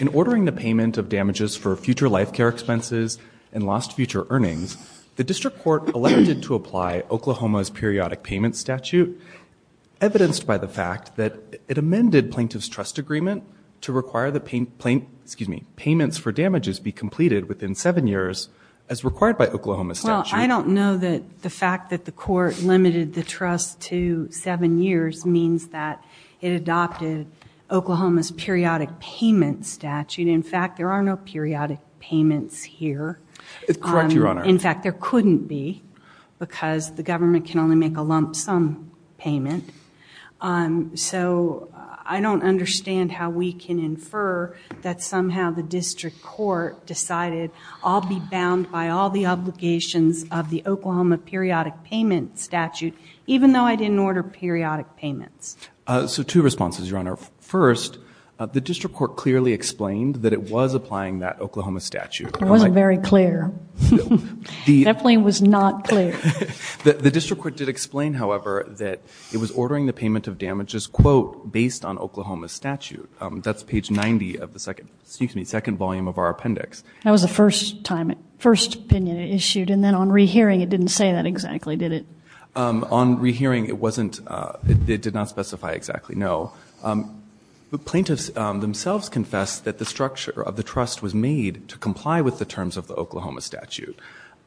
In ordering the payment of damages for future life care expenses and lost future earnings, the District Court elected to apply Oklahoma's periodic payment statute, evidenced by the fact that it amended Plaintiff's Trust Agreement to require that payments for damages be completed within seven years, as required by Oklahoma's statute. Well, I don't know that the fact that the court limited the trust to seven years means that it adopted Oklahoma's periodic payment statute. In fact, there are no periodic payments here. Correct, Your Honor. In fact, there couldn't be, because the government can only make a lump sum payment. So I don't understand how we can infer that somehow the District Court decided, I'll be bound by all the obligations of the Oklahoma periodic payment statute, even though I didn't order periodic payments. So two responses, Your Honor. First, the District Court clearly explained that it was applying that Oklahoma statute. It wasn't very clear. Definitely was not clear. The District Court did explain, however, that it was ordering the payment of damages, quote, based on Oklahoma's statute. That's page 90 of the second, excuse me, second volume of our appendix. That was the first time, first opinion it issued, and then on rehearing it didn't say that exactly, did it? On rehearing, it wasn't, it did not specify exactly, no. The plaintiffs themselves confessed that the structure of the trust was made to comply with the terms of the Oklahoma statute.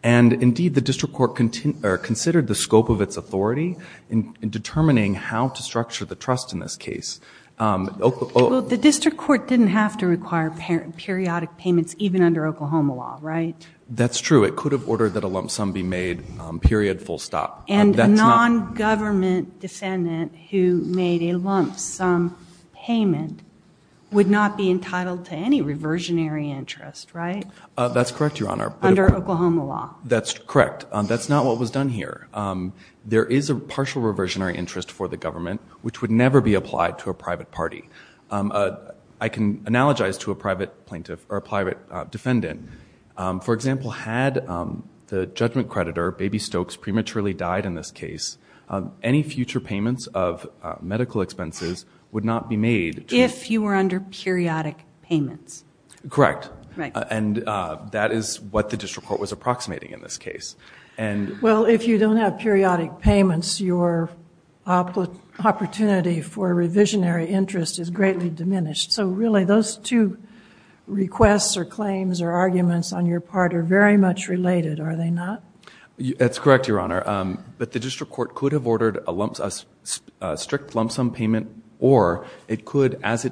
And indeed, the District Court considered the scope of its authority in determining how to structure the trust in this case. Well, the District Court didn't have to require periodic payments even under Oklahoma law, right? That's true. It could have ordered that a lump sum be made, period, full stop. And a nongovernment defendant who made a lump sum payment would not be entitled to any reversionary interest, right? That's correct, Your Honor. Under Oklahoma law. That's correct. That's not what was done here. There is a partial reversionary interest for the government, which would never be applied to a private party. I can analogize to a private plaintiff, or a private defendant. For example, had the judgment creditor, Baby Stokes, prematurely died in this case, any future payments of medical expenses would not be made. If you were under periodic payments. Correct. Right. And that is what the District Court was approximating in this case. Well, if you don't have periodic payments, your opportunity for a revisionary interest is greatly diminished. So really, those two requests, or claims, or arguments on your part are very much related, are they not? That's correct, Your Honor. But the District Court could have ordered a strict lump sum payment, or it could, as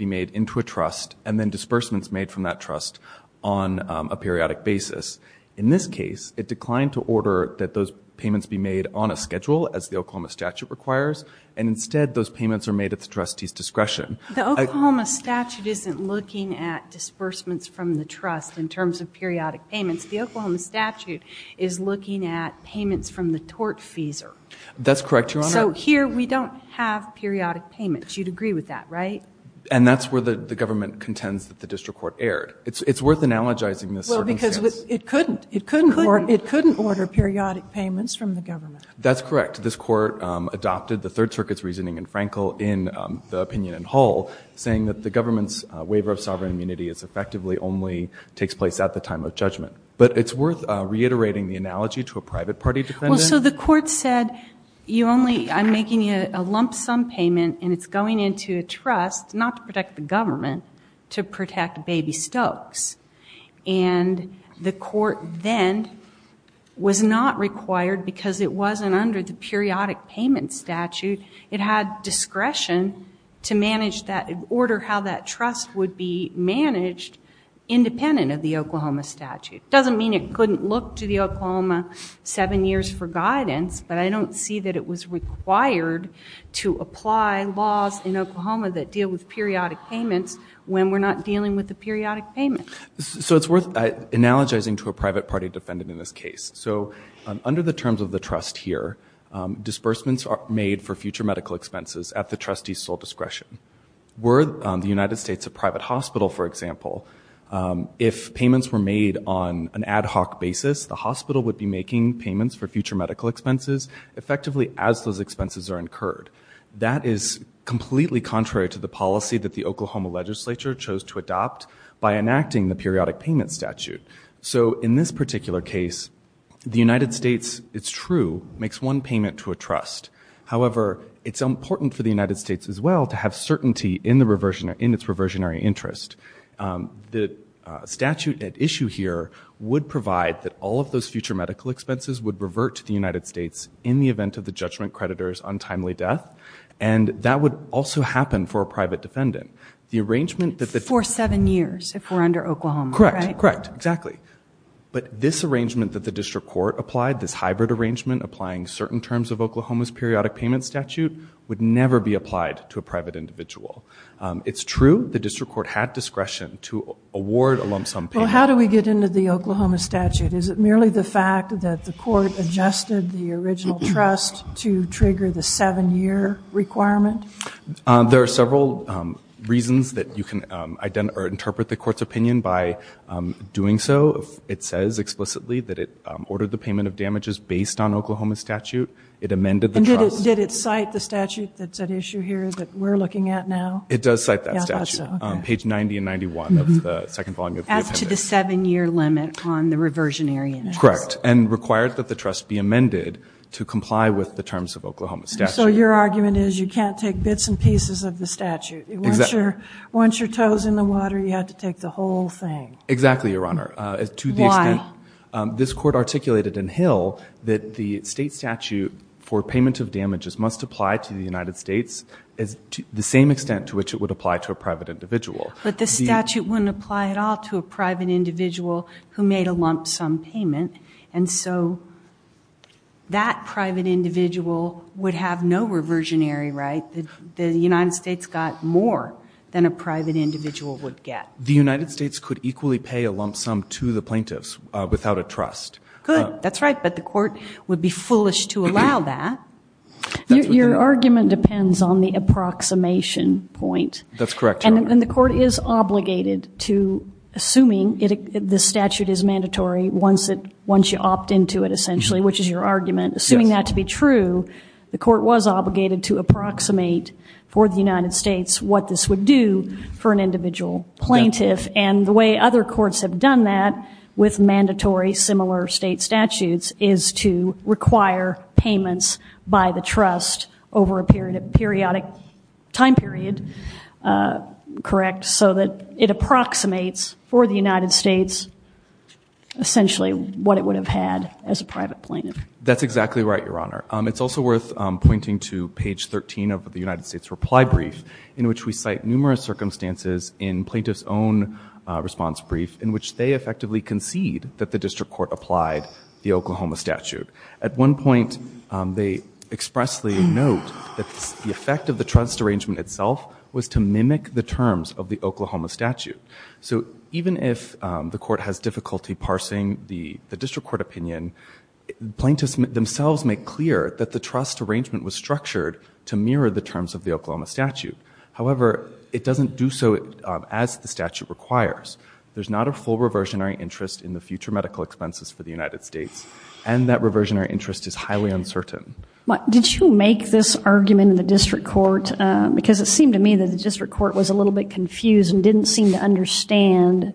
made into a trust, and then disbursements made from that trust on a periodic basis. In this case, it declined to order that those payments be made on a schedule, as the Oklahoma statute requires. And instead, those payments are made at the trustee's discretion. The Oklahoma statute isn't looking at disbursements from the trust in terms of periodic payments. The Oklahoma statute is looking at payments from the tortfeasor. That's correct, Your Honor. So here, we don't have periodic payments. You'd agree with that, right? And that's where the government contends that the District Court erred. It's worth analogizing this circumstance. Well, because it couldn't. It couldn't order periodic payments from the government. That's correct. This Court adopted the Third Circuit's reasoning in Frankel in the opinion in whole, saying that the government's waiver of sovereign immunity effectively only takes place at the time of judgment. But it's worth reiterating the analogy to a private party defendant. Well, so the Court said, I'm making a lump sum payment, and it's going into a trust, not to protect the government, to protect Baby Stokes. And the Court then was not required, because it wasn't under the periodic payment statute. It had discretion to order how that trust would be managed independent of the Oklahoma statute. It doesn't mean it couldn't look to the Oklahoma seven years for guidance, but I don't see that it was required to apply laws in Oklahoma that deal with periodic payments when we're not dealing with the periodic payment. So it's worth analogizing to a private party defendant in this case. So under the terms of the trust here, disbursements are made for future medical expenses at the trustee's sole discretion. Were the United States a private hospital, for example, if payments were made on an ad hoc basis, the hospital would be making payments for future medical expenses effectively as those expenses are incurred. That is completely contrary to the policy that the Oklahoma legislature chose to adopt by enacting the periodic payment statute. So in this particular case, the United States, it's true, makes one payment to a trust. However, it's important for the United States as well to have certainty in its reversionary interest. The statute at issue here would provide that all of those future medical expenses would revert to the United States in the event of the judgment creditor's untimely death. And that would also happen for a private defendant. The arrangement that the- For seven years if we're under Oklahoma, right? Correct. Correct. Exactly. But this arrangement that the district court applied, this hybrid arrangement applying certain terms of Oklahoma's periodic payment statute would never be applied to a private individual. It's true the district court had discretion to award a lump sum payment. Well, how do we get into the Oklahoma statute? Is it merely the fact that the court adjusted the original trust to trigger the seven-year requirement? There are several reasons that you can interpret the court's opinion by doing so. It says explicitly that it ordered the payment of damages based on Oklahoma statute. It amended the trust- And did it cite the statute that's at issue here that we're looking at now? It does cite that statute. Yeah, I thought so. Okay. Page 90 and 91 of the second volume of the appendix. As to the seven-year limit on the reversionary interest. Correct. And required that the trust be amended to comply with the terms of Oklahoma statute. So your argument is you can't take bits and pieces of the statute. Once your toe's in the water, you have to take the whole thing. Exactly, Your Honor. Why? To the extent this court articulated in Hill that the state statute for payment of damages must apply to the United States to the same extent to which it would apply to a private individual. But the statute wouldn't apply at all to a private individual who made a lump sum payment. And so that private individual would have no reversionary right. The United States got more than a private individual would get. The United States could equally pay a lump sum to the plaintiffs without a trust. Good. That's right. But the court would be foolish to allow that. Your argument depends on the approximation point. That's correct, Your Honor. And the court is obligated to, assuming the statute is mandatory once you opt into it essentially, which is your argument, assuming that to be true, the court was obligated to And the way other courts have done that with mandatory similar state statutes is to require payments by the trust over a periodic time period, correct, so that it approximates for the United States essentially what it would have had as a private plaintiff. That's exactly right, Your Honor. It's also worth pointing to page 13 of the United States reply brief in which we cite numerous circumstances in plaintiffs' own response brief in which they effectively concede that the district court applied the Oklahoma statute. At one point, they expressly note that the effect of the trust arrangement itself was to mimic the terms of the Oklahoma statute. So even if the court has difficulty parsing the district court opinion, plaintiffs themselves make clear that the trust arrangement was structured to mirror the terms of the Oklahoma statute. However, it doesn't do so as the statute requires. There's not a full reversionary interest in the future medical expenses for the United States, and that reversionary interest is highly uncertain. Did you make this argument in the district court? Because it seemed to me that the district court was a little bit confused and didn't seem to understand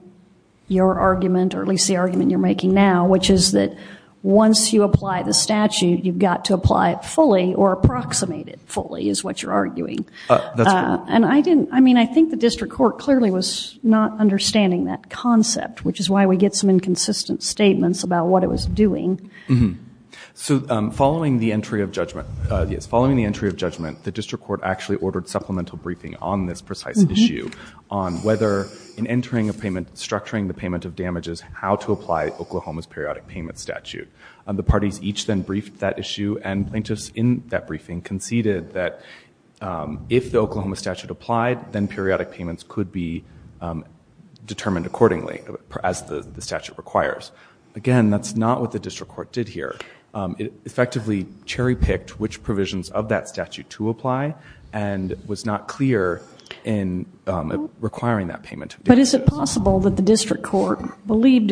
your argument, or at least the argument you're making now, which is that once you apply the statute, you've got to apply it fully or approximate it fully is what you're arguing. That's correct. And I didn't, I mean, I think the district court clearly was not understanding that concept, which is why we get some inconsistent statements about what it was doing. So following the entry of judgment, yes, following the entry of judgment, the district court actually ordered supplemental briefing on this precise issue on whether in entering a payment, structuring the payment of damages, how to apply Oklahoma's periodic payment statute. The parties each then briefed that issue, and plaintiffs in that briefing conceded that if the Oklahoma statute applied, then periodic payments could be determined accordingly, as the statute requires. Again, that's not what the district court did here. It effectively cherry-picked which provisions of that statute to apply, and was not clear in requiring that payment of damages. Is it possible that the district court believed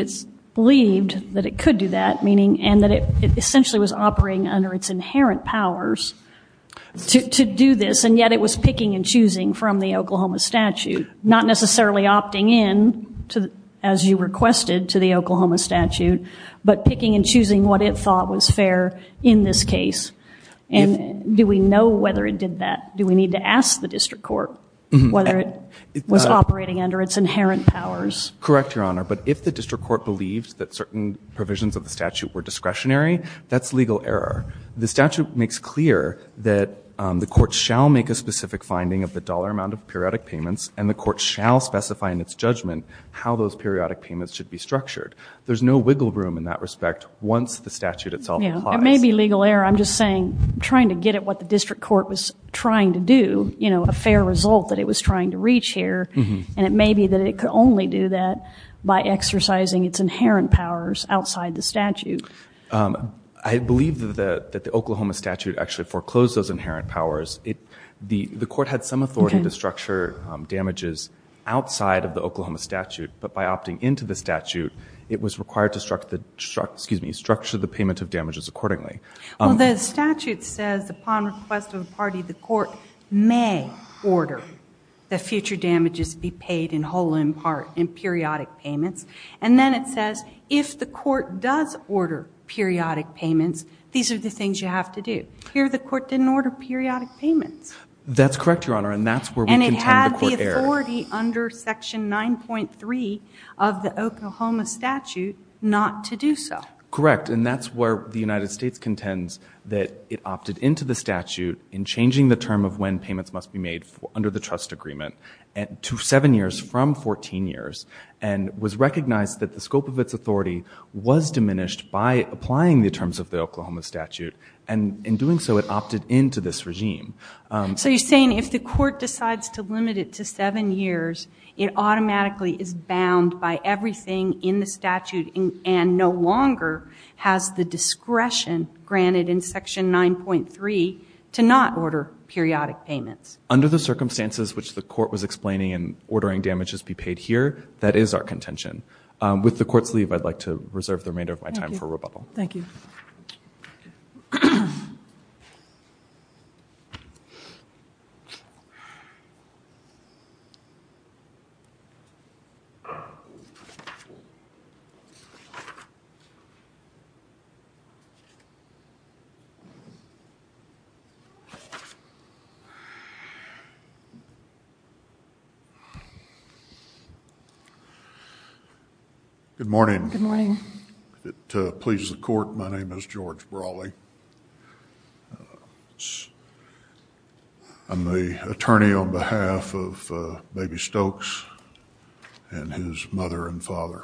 that it could do that, and that it essentially was operating under its inherent powers to do this, and yet it was picking and choosing from the Oklahoma statute? Not necessarily opting in, as you requested, to the Oklahoma statute, but picking and choosing what it thought was fair in this case, and do we know whether it did that? Do we need to ask the district court whether it was operating under its inherent powers? Correct, Your Honor. But if the district court believed that certain provisions of the statute were discretionary, that's legal error. The statute makes clear that the court shall make a specific finding of the dollar amount of periodic payments, and the court shall specify in its judgment how those periodic payments should be structured. There's no wiggle room in that respect once the statute itself applies. It may be legal error. I'm just saying, trying to get at what the district court was trying to do, a fair result that it was trying to reach here, and it may be that it could only do that by exercising its inherent powers outside the statute. I believe that the Oklahoma statute actually foreclosed those inherent powers. The court had some authority to structure damages outside of the Oklahoma statute, but by opting into the statute, it was required to structure the payment of damages accordingly. Well, the statute says, upon request of the party, the court may order that future damages be paid in whole, in part, in periodic payments. And then it says, if the court does order periodic payments, these are the things you have to do. Here, the court didn't order periodic payments. That's correct, Your Honor, and that's where we contend the court erred. And it had the authority under section 9.3 of the Oklahoma statute not to do so. Correct. And that's where the United States contends that it opted into the statute in changing the term of when payments must be made under the trust agreement to seven years from 14 years, and was recognized that the scope of its authority was diminished by applying the terms of the Oklahoma statute, and in doing so, it opted into this regime. So you're saying if the court decides to limit it to seven years, it automatically is bound by everything in the statute, and no longer has the discretion granted in section 9.3 to not order periodic payments. Under the circumstances which the court was explaining in ordering damages be paid here, that is our contention. With the court's leave, I'd like to reserve the remainder of my time for rebuttal. Thank you. Good morning. Good morning. If it pleases the court, my name is George Brawley. I'm the attorney on behalf of Baby Stokes and his mother and father.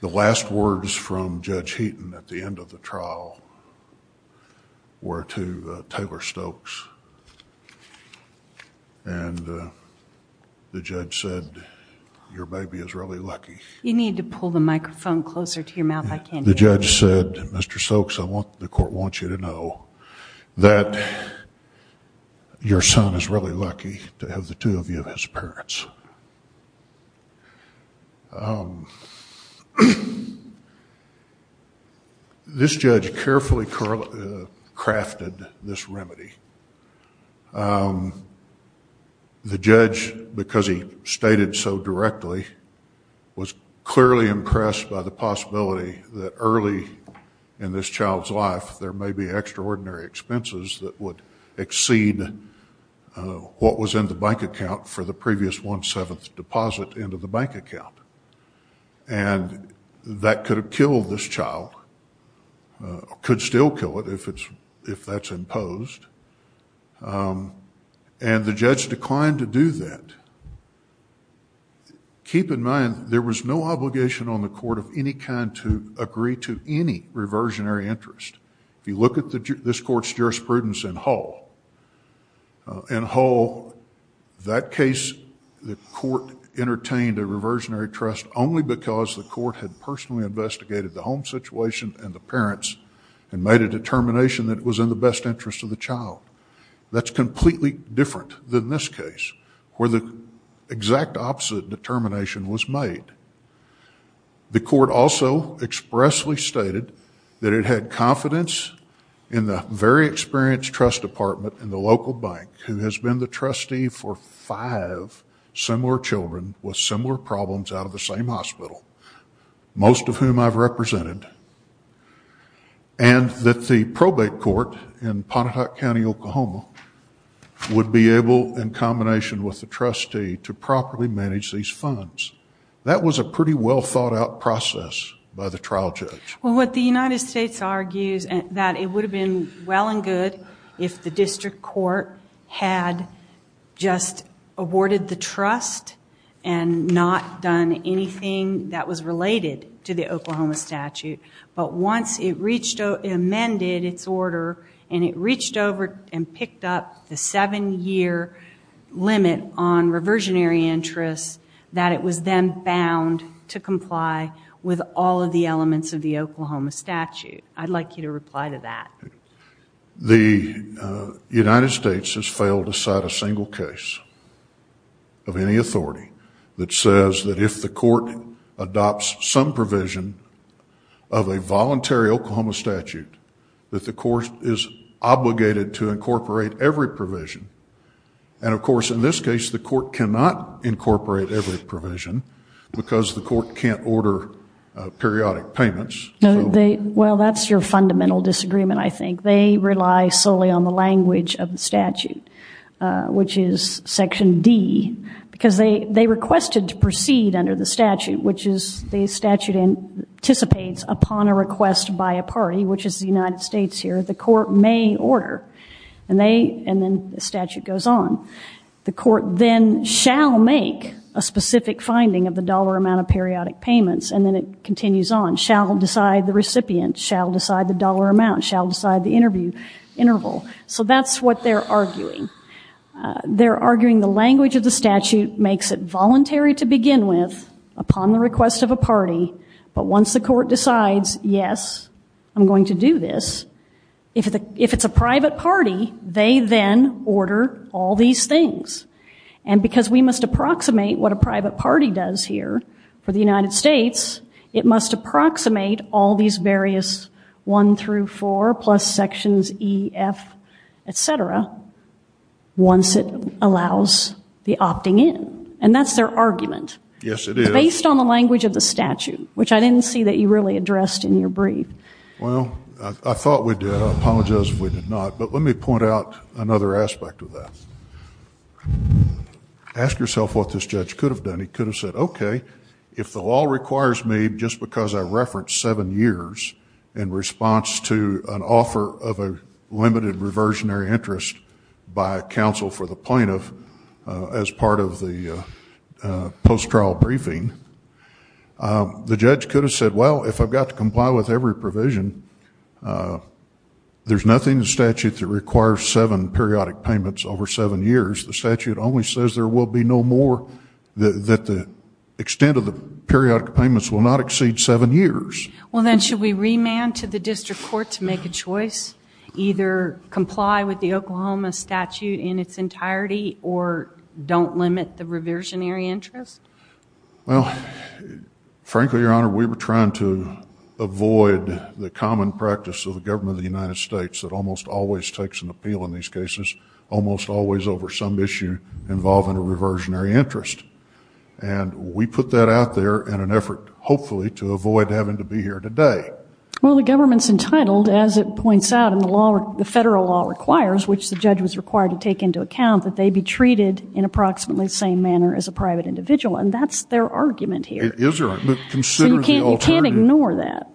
The last words from Judge Heaton at the end of the trial were to Taylor Stokes, and the judge said, your baby is really lucky. You need to pull the microphone closer to your mouth. The judge said, Mr. Stokes, the court wants you to know that your son is really lucky to have the two of you as parents. This judge carefully crafted this remedy. The judge, because he stated so directly, was clearly impressed by the possibility that early in this child's life, there may be extraordinary expenses that would exceed what was in the bank account for the previous one-seventh deposit into the bank account. That could have killed this child, could still kill it if that's imposed, and the judge declined to do that. Keep in mind, there was no obligation on the court of any kind to agree to any reversionary interest. If you look at this court's jurisprudence in Hall, in Hall, that case, the court entertained a reversionary trust only because the court had personally investigated the home situation and the parents and made a determination that it was in the best interest of the child. That's completely different than this case, where the exact opposite determination was made. The court also expressly stated that it had confidence in the very experienced trust department in the local bank, who has been the trustee for five similar children with similar problems out of the same hospital, most of whom I've represented, and that the probate court in Pontotoc County, Oklahoma, would be able, in combination with the trustee, to properly manage these funds. That was a pretty well-thought-out process by the trial judge. What the United States argues, that it would have been well and good if the district court had just awarded the trust and not done anything that was related to the Oklahoma statute, but once it reached out and amended its order, and it reached over and picked up the seven-year limit on reversionary interest, that it was then bound to comply with all of the elements of the Oklahoma statute. I'd like you to reply to that. The United States has failed to cite a single case of any authority that says that if the court adopts some provision of a voluntary Oklahoma statute, that the court is obligated to incorporate every provision, and of course, in this case, the court cannot incorporate every provision, because the court can't order periodic payments. Well, that's your fundamental disagreement, I think. They rely solely on the language of the statute, which is Section D, because they requested to proceed under the statute, which is the statute anticipates upon a request by a party, which is the United States here, that the court may order, and then the statute goes on. The court then shall make a specific finding of the dollar amount of periodic payments, and then it continues on, shall decide the recipient, shall decide the dollar amount, shall decide the interview interval. So that's what they're arguing. They're arguing the language of the statute makes it voluntary to begin with upon the request of a party, but once the court decides, yes, I'm going to do this, if it's a private party, they then order all these things, and because we must approximate what a private party does here for the United States, it must approximate all these various one through four, plus sections E, F, et cetera, once it allows the opting in, and that's their argument. Yes, it is. Based on the language of the statute, which I didn't see that you really addressed in your brief. Well, I thought we did. I apologize if we did not, but let me point out another aspect of that. Ask yourself what this judge could have done. He could have said, okay, if the law requires me, just because I referenced seven years in response to an offer of a limited reversionary interest by a counsel for the plaintiff as part of the post-trial briefing, the judge could have said, well, if I've got to comply with every provision, there's nothing in the statute that requires seven periodic payments over seven years. The statute only says there will be no more, that the extent of the periodic payments will not exceed seven years. Well, then should we remand to the district court to make a choice, either comply with the Oklahoma statute in its entirety, or don't limit the reversionary interest? Well, frankly, Your Honor, we were trying to avoid the common practice of the government of the United States that almost always takes an appeal in these cases, almost always over some issue involving a reversionary interest. And we put that out there in an effort, hopefully, to avoid having to be here today. Well, the government's entitled, as it points out in the law, the federal law requires, which the judge was required to take into account, that they be treated in approximately the same manner as a private individual. And that's their argument here. It is their argument. So you can't ignore that.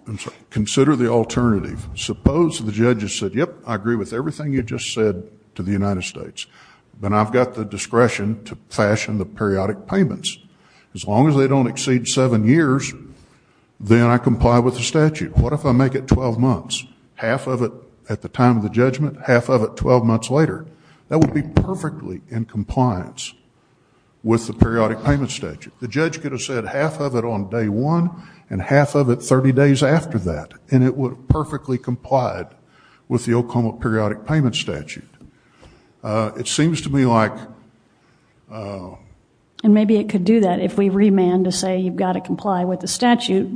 Consider the alternative. Suppose the judge has said, yep, I agree with everything you just said to the United States, but I've got the discretion to fashion the periodic payments. As long as they don't exceed seven years, then I comply with the statute. What if I make it 12 months? Half of it at the time of the judgment, half of it 12 months later? That would be perfectly in compliance with the periodic payment statute. The judge could have said half of it on day one and half of it 30 days after that, and it would have perfectly complied with the Oklahoma periodic payment statute. It seems to me like... And maybe it could do that if we remand to say you've got to comply with the statute.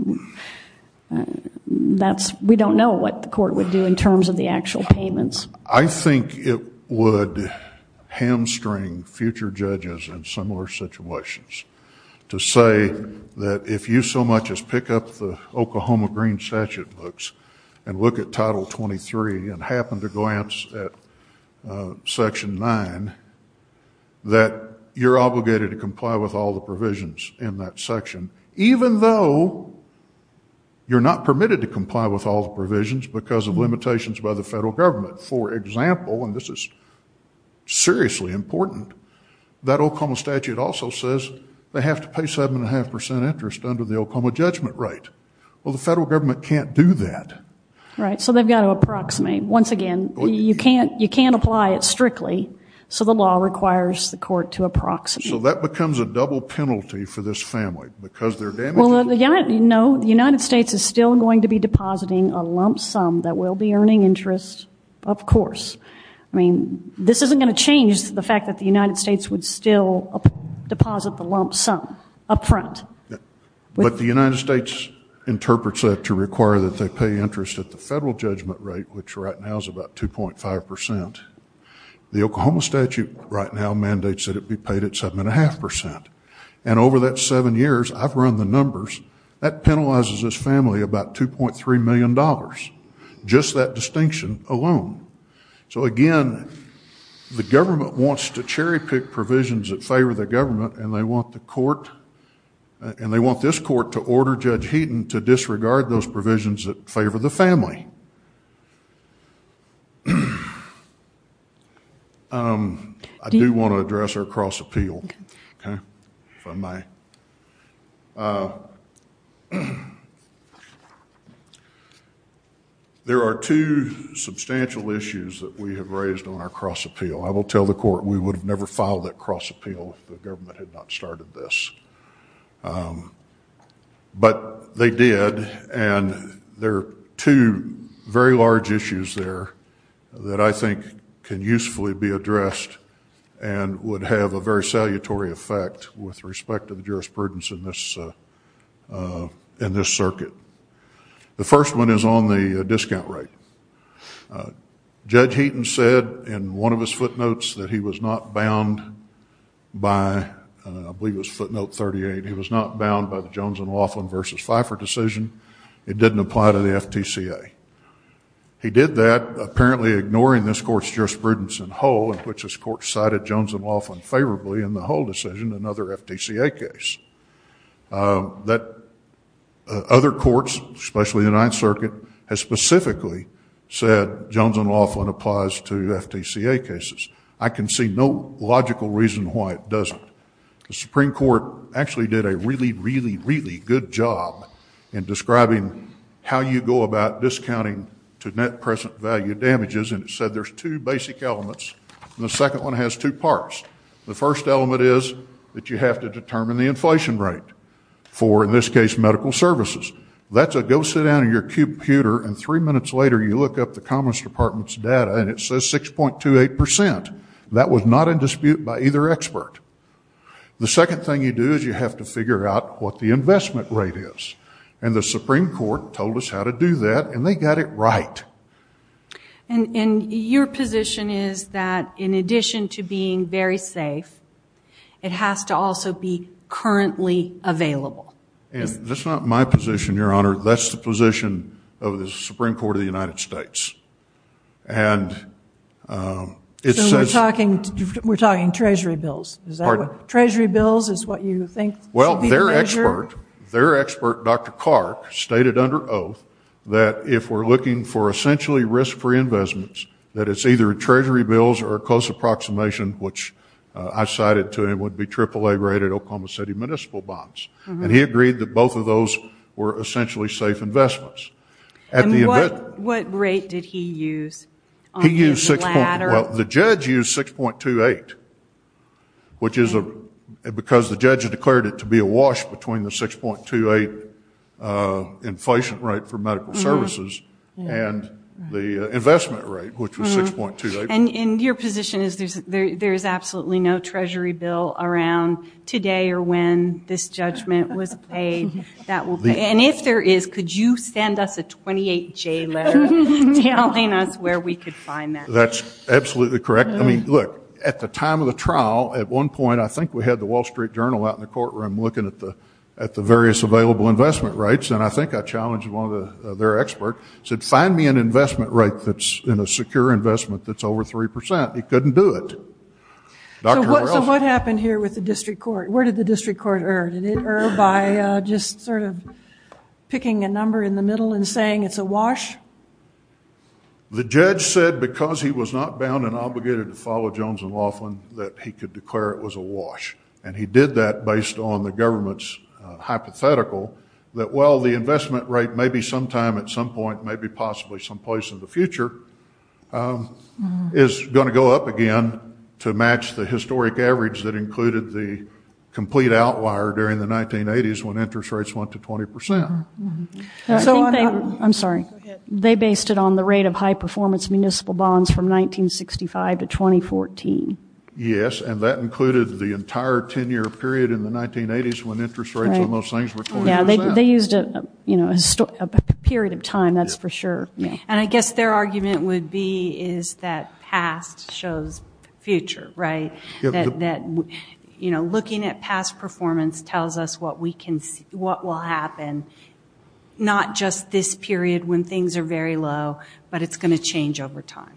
We don't know what the court would do in terms of the actual payments. I think it would hamstring future judges in similar situations to say that if you so much as pick up the Oklahoma green statute books and look at Title 23 and happen to glance at Section 9, that you're obligated to comply with all the provisions in that section, even though you're not permitted to comply with all the provisions because of limitations by the federal government. For example, and this is seriously important, that Oklahoma statute also says they have to pay 7.5% interest under the Oklahoma judgment right. Well, the federal government can't do that. Right, so they've got to approximate. Once again, you can't apply it strictly, so the law requires the court to approximate. So that becomes a double penalty for this family because they're damaging... No, the United States is still going to be depositing a lump sum that we'll be earning interest, of course. I mean, this isn't going to change the fact that the United States would still deposit the lump sum up front. But the United States interprets that to require that they pay interest at the federal judgment rate, which right now is about 2.5%. The Oklahoma statute right now mandates that it be paid at 7.5%. And over that seven years, I've run the numbers, that penalizes this family about $2.3 million, just that distinction alone. So again, the government wants to cherry pick provisions that favor the government, and they want the court, and they want this court to order Judge Heaton to disregard those provisions that favor the family. I do want to address our cross-appeal, okay, if I may. There are two substantial issues that we have raised on our cross-appeal. I will tell the court we would have never filed that cross-appeal if the government had not started this. But they did, and there are two very large issues there that I think can usefully be addressed and would have a very salutary effect with respect to the jurisprudence in this circuit. The first one is on the discount rate. Judge Heaton said in one of his footnotes that he was not bound by, I believe it was footnote 38, he was not bound by the Jones and Laughlin versus Pfeiffer decision. It didn't apply to the FTCA. He did that, apparently ignoring this court's jurisprudence in whole, in which this court cited Jones and Laughlin favorably in the whole decision, another FTCA case. Other courts, especially the Ninth Circuit, have specifically said Jones and Laughlin applies to FTCA cases. I can see no logical reason why it doesn't. The Supreme Court actually did a really, really, really good job in describing how you go about discounting to net present value damages, and it said there's two basic elements, and the second one has two parts. The first element is that you have to determine the inflation rate for, in this case, medical services. That's a go sit down at your computer, and three minutes later you look up the Commons Department's data, and it says 6.28 percent. That was not in dispute by either expert. The second thing you do is you have to figure out what the investment rate is, and the Supreme Court told us how to do that, and they got it right. Your position is that in addition to being very safe, it has to also be currently available. That's not my position, Your Honor. That's the position of the Supreme Court of the United States. We're talking treasury bills. Treasury bills is what you think should be the measure? Their expert, Dr. Clark, stated under oath that if we're looking for essentially risk-free investments, that it's either treasury bills or a close approximation, which I cited to him would be AAA rated Oklahoma City municipal bonds. He agreed that both of those were essentially safe investments. What rate did he use on his ladder? The judge used 6.28, because the judge declared it to be a wash between the 6.28 inflation rate for medical services and the investment rate, which was 6.28. Your position is there's absolutely no treasury bill around today or when this judgment was paid. If there is, could you send us a 28-J letter telling us where we could find that? Absolutely correct. Look, at the time of the trial, at one point, I think we had the Wall Street Journal out in the courtroom looking at the various available investment rates. I think I challenged one of their experts, said, find me an investment rate that's in a secure investment that's over 3%. He couldn't do it. What happened here with the district court? Where did the district court err? Did it err by just sort of picking a number in the middle and saying it's a wash? The judge said because he was not bound and obligated to follow Jones and Laughlin, that he could declare it was a wash. He did that based on the government's hypothetical that, well, the investment rate may be sometime at some point, may be possibly some place in the future, is going to go up again to match the historic average that included the complete outlier during the 1980s when interest rates went to 20%. I'm sorry. They based it on the rate of high-performance municipal bonds from 1965 to 2014. Yes, and that included the entire 10-year period in the 1980s when interest rates on those things were 20%. They used a period of time, that's for sure. I guess their argument would be is that past shows future, right? Looking at past performance tells us what will happen, not just this period when things are very low, but it's going to change over time.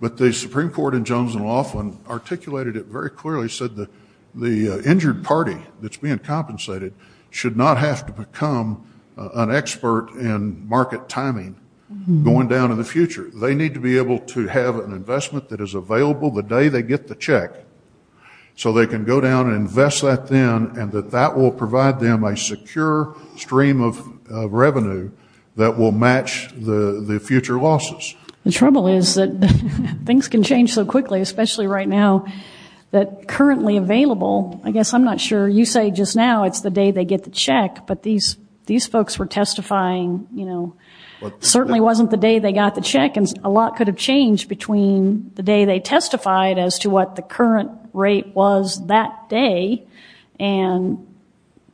The Supreme Court in Jones and Laughlin articulated it very clearly, said the injured party that's being compensated should not have to become an expert in market timing going down in the future. They need to be able to have an investment that is available the day they get the check so they can go down and invest that then and that that will provide them a secure stream of revenue that will match the future losses. The trouble is that things can change so quickly, especially right now, that currently available, I guess I'm not sure, you say just now it's the day they get the check, but these folks were testifying, you know, certainly wasn't the day they got the check and a lot could have changed between the day they testified as to what the current rate was that day and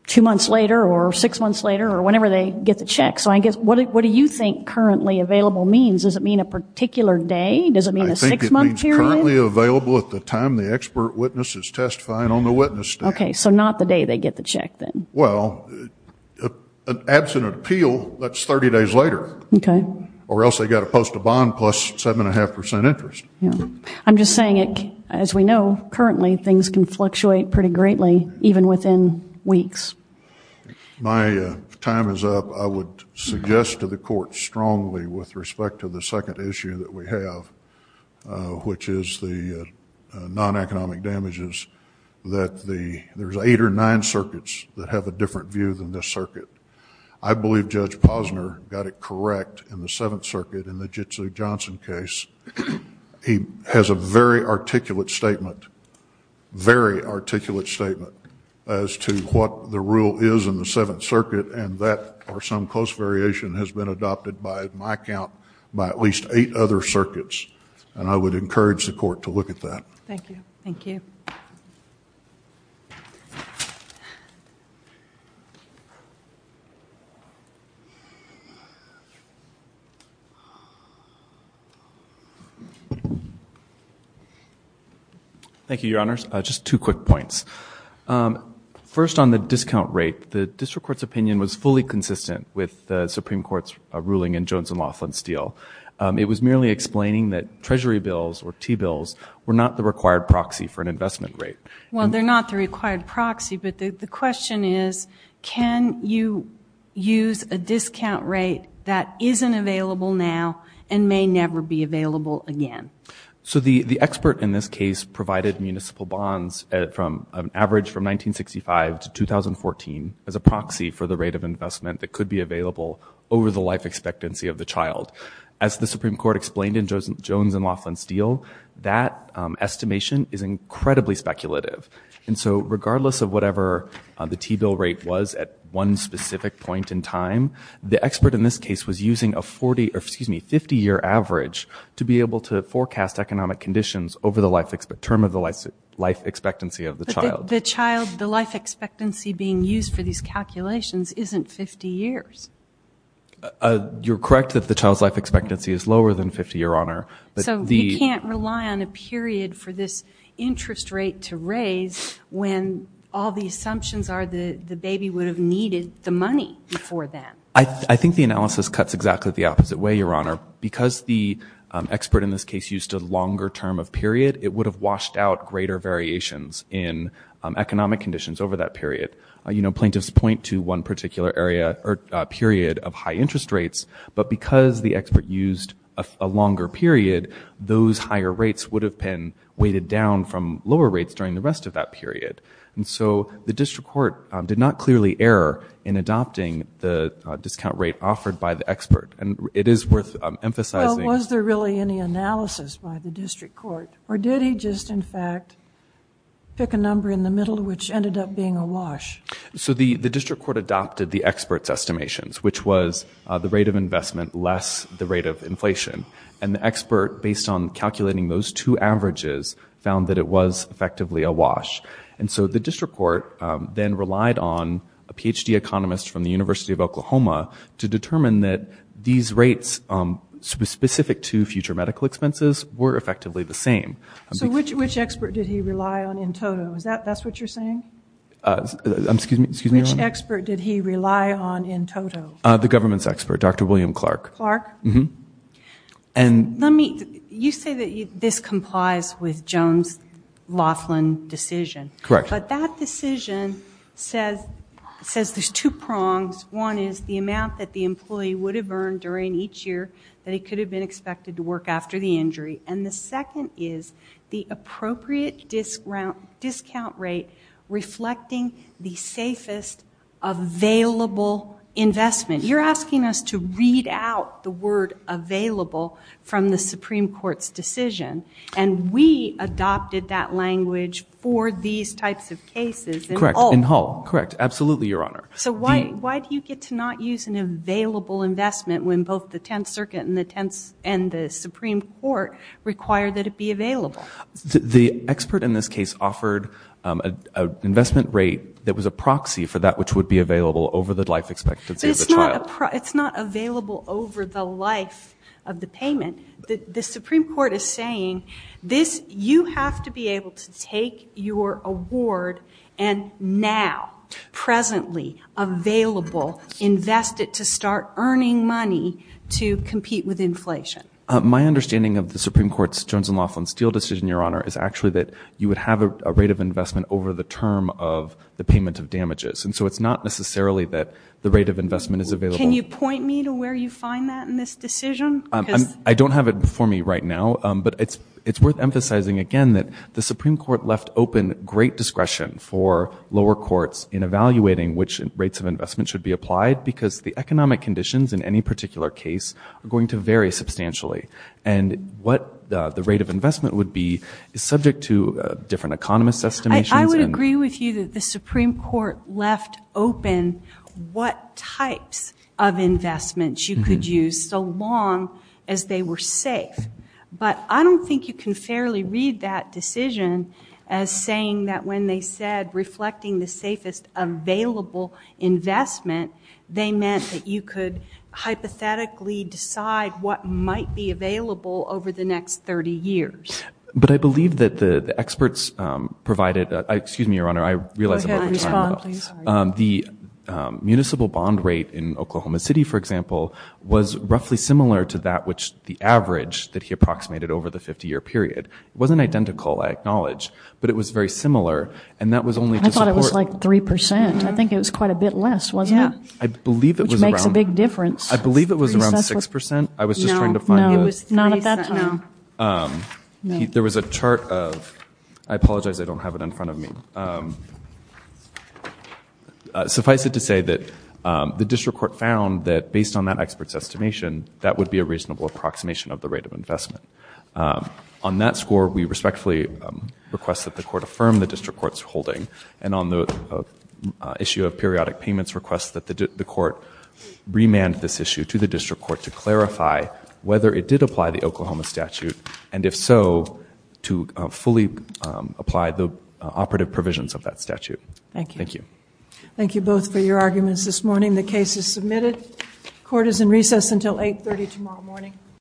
two months later or six months later or whenever they get the check. So I guess, what do you think currently available means? Does it mean a particular day? Does it mean a six-month period? I think it means currently available at the time the expert witness is testifying on the witness stand. Okay, so not the day they get the check then. Well, an absent appeal, that's 30 days later. Okay. Or else they got to post a bond plus seven and a half percent interest. I'm just saying it, as we know, currently things can fluctuate pretty greatly even within weeks. My time is up. I would suggest to the court strongly with respect to the second issue that we have, which is the non-economic damages that there's eight or nine circuits that have a different view than this circuit. I believe Judge Posner got it correct in the Seventh Circuit in the Jitsu Johnson case. He has a very articulate statement, very articulate statement as to what the rule is in the Seventh Circuit and that or some close variation has been adopted by my count by at least eight other circuits and I would encourage the court to look at that. Thank you. Thank you. Thank you, Your Honors. Just two quick points. First on the discount rate, the district court's opinion was fully consistent with the Supreme Court's ruling in Jones and Laughlin's deal. It was merely explaining that treasury bills or T-bills were not the required proxy for an investment rate. Well, they're not the required proxy, but the question is, can you use a discount rate that isn't available now and may never be available again? So the expert in this case provided municipal bonds from an average from 1965 to 2014 as a proxy for the rate of investment that could be available over the life expectancy of the child. As the Supreme Court explained in Jones and Laughlin's deal, that estimation is incredibly speculative and so regardless of whatever the T-bill rate was at one specific point in time, the expert in this case was using a 50-year average to be able to forecast economic conditions over the term of the life expectancy of the child. The child, the life expectancy being used for these calculations isn't 50 years. You're correct that the child's life expectancy is lower than 50, Your Honor. So you can't rely on a period for this interest rate to raise when all the assumptions are that the baby would have needed the money before then. I think the analysis cuts exactly the opposite way, Your Honor. Because the expert in this case used a longer term of period, it would have washed out greater variations in economic conditions over that period. You know, plaintiffs point to one particular area or period of high interest rates, but because the expert used a longer period, those higher rates would have been weighted down from lower rates during the rest of that period. And so the district court did not clearly err in adopting the discount rate offered by the expert. And it is worth emphasizing. Well, was there really any analysis by the district court? Or did he just, in fact, pick a number in the middle which ended up being a wash? So the district court adopted the expert's estimations, which was the rate of investment less the rate of inflation. And the expert, based on calculating those two averages, found that it was effectively a wash. And so the district court then relied on a Ph.D. economist from the University of Oklahoma to determine that these rates specific to future medical expenses were effectively the same. So which expert did he rely on in total? Is that what you're saying? Excuse me? Which expert did he rely on in total? The government's expert, Dr. William Clark. Clark? Mm-hmm. And let me, you say that this complies with Jones-Loughlin decision. Correct. But that decision says there's two prongs. One is the amount that the employee would have earned during each year that he could have been expected to work after the injury. And the second is the appropriate discount rate reflecting the safest available investment. You're asking us to read out the word available from the Supreme Court's decision. And we adopted that language for these types of cases in Hull. Correct. In Hull. Correct. Absolutely, Your Honor. So why do you get to not use an available investment when both the Tenth Circuit and the Supreme Court require that it be available? The expert in this case offered an investment rate that was a proxy for that which would be available over the life expectancy of the child. It's not available over the life of the payment. The Supreme Court is saying this, you have to be able to take your award and now, presently, available, invest it to start earning money to compete with inflation. My understanding of the Supreme Court's Jones and Loughlin Steel decision, Your Honor, is actually that you would have a rate of investment over the term of the payment of damages. And so it's not necessarily that the rate of investment is available. Can you point me to where you find that in this decision? I don't have it before me right now. But it's worth emphasizing again that the Supreme Court left open great discretion for lower courts in evaluating which rates of investment should be applied because the economic conditions in any particular case are going to vary substantially. And what the rate of investment would be is subject to different economists' estimations. I would agree with you that the Supreme Court left open what types of investments you could use so long as they were safe. But I don't think you can fairly read that decision as when they said reflecting the safest available investment, they meant that you could hypothetically decide what might be available over the next 30 years. But I believe that the experts provided, excuse me, Your Honor, I realize I'm over time. The municipal bond rate in Oklahoma City, for example, was roughly similar to that which the average that he approximated over the 50-year period. It wasn't identical, I acknowledge, but it was very similar. And that was only to support... I thought it was like 3 percent. I think it was quite a bit less, wasn't it? Yeah. I believe it was around... Which makes a big difference. I believe it was around 6 percent. I was just trying to find the... No, no. It was 3 percent. No. There was a chart of, I apologize I don't have it in front of me. Suffice it to say that the district court found that based on that expert's estimation, that would be a district court's holding. And on the issue of periodic payments requests that the court remand this issue to the district court to clarify whether it did apply the Oklahoma statute, and if so, to fully apply the operative provisions of that statute. Thank you. Thank you. Thank you both for your arguments this morning. The case is submitted. Court is in recess until 8.30 tomorrow morning.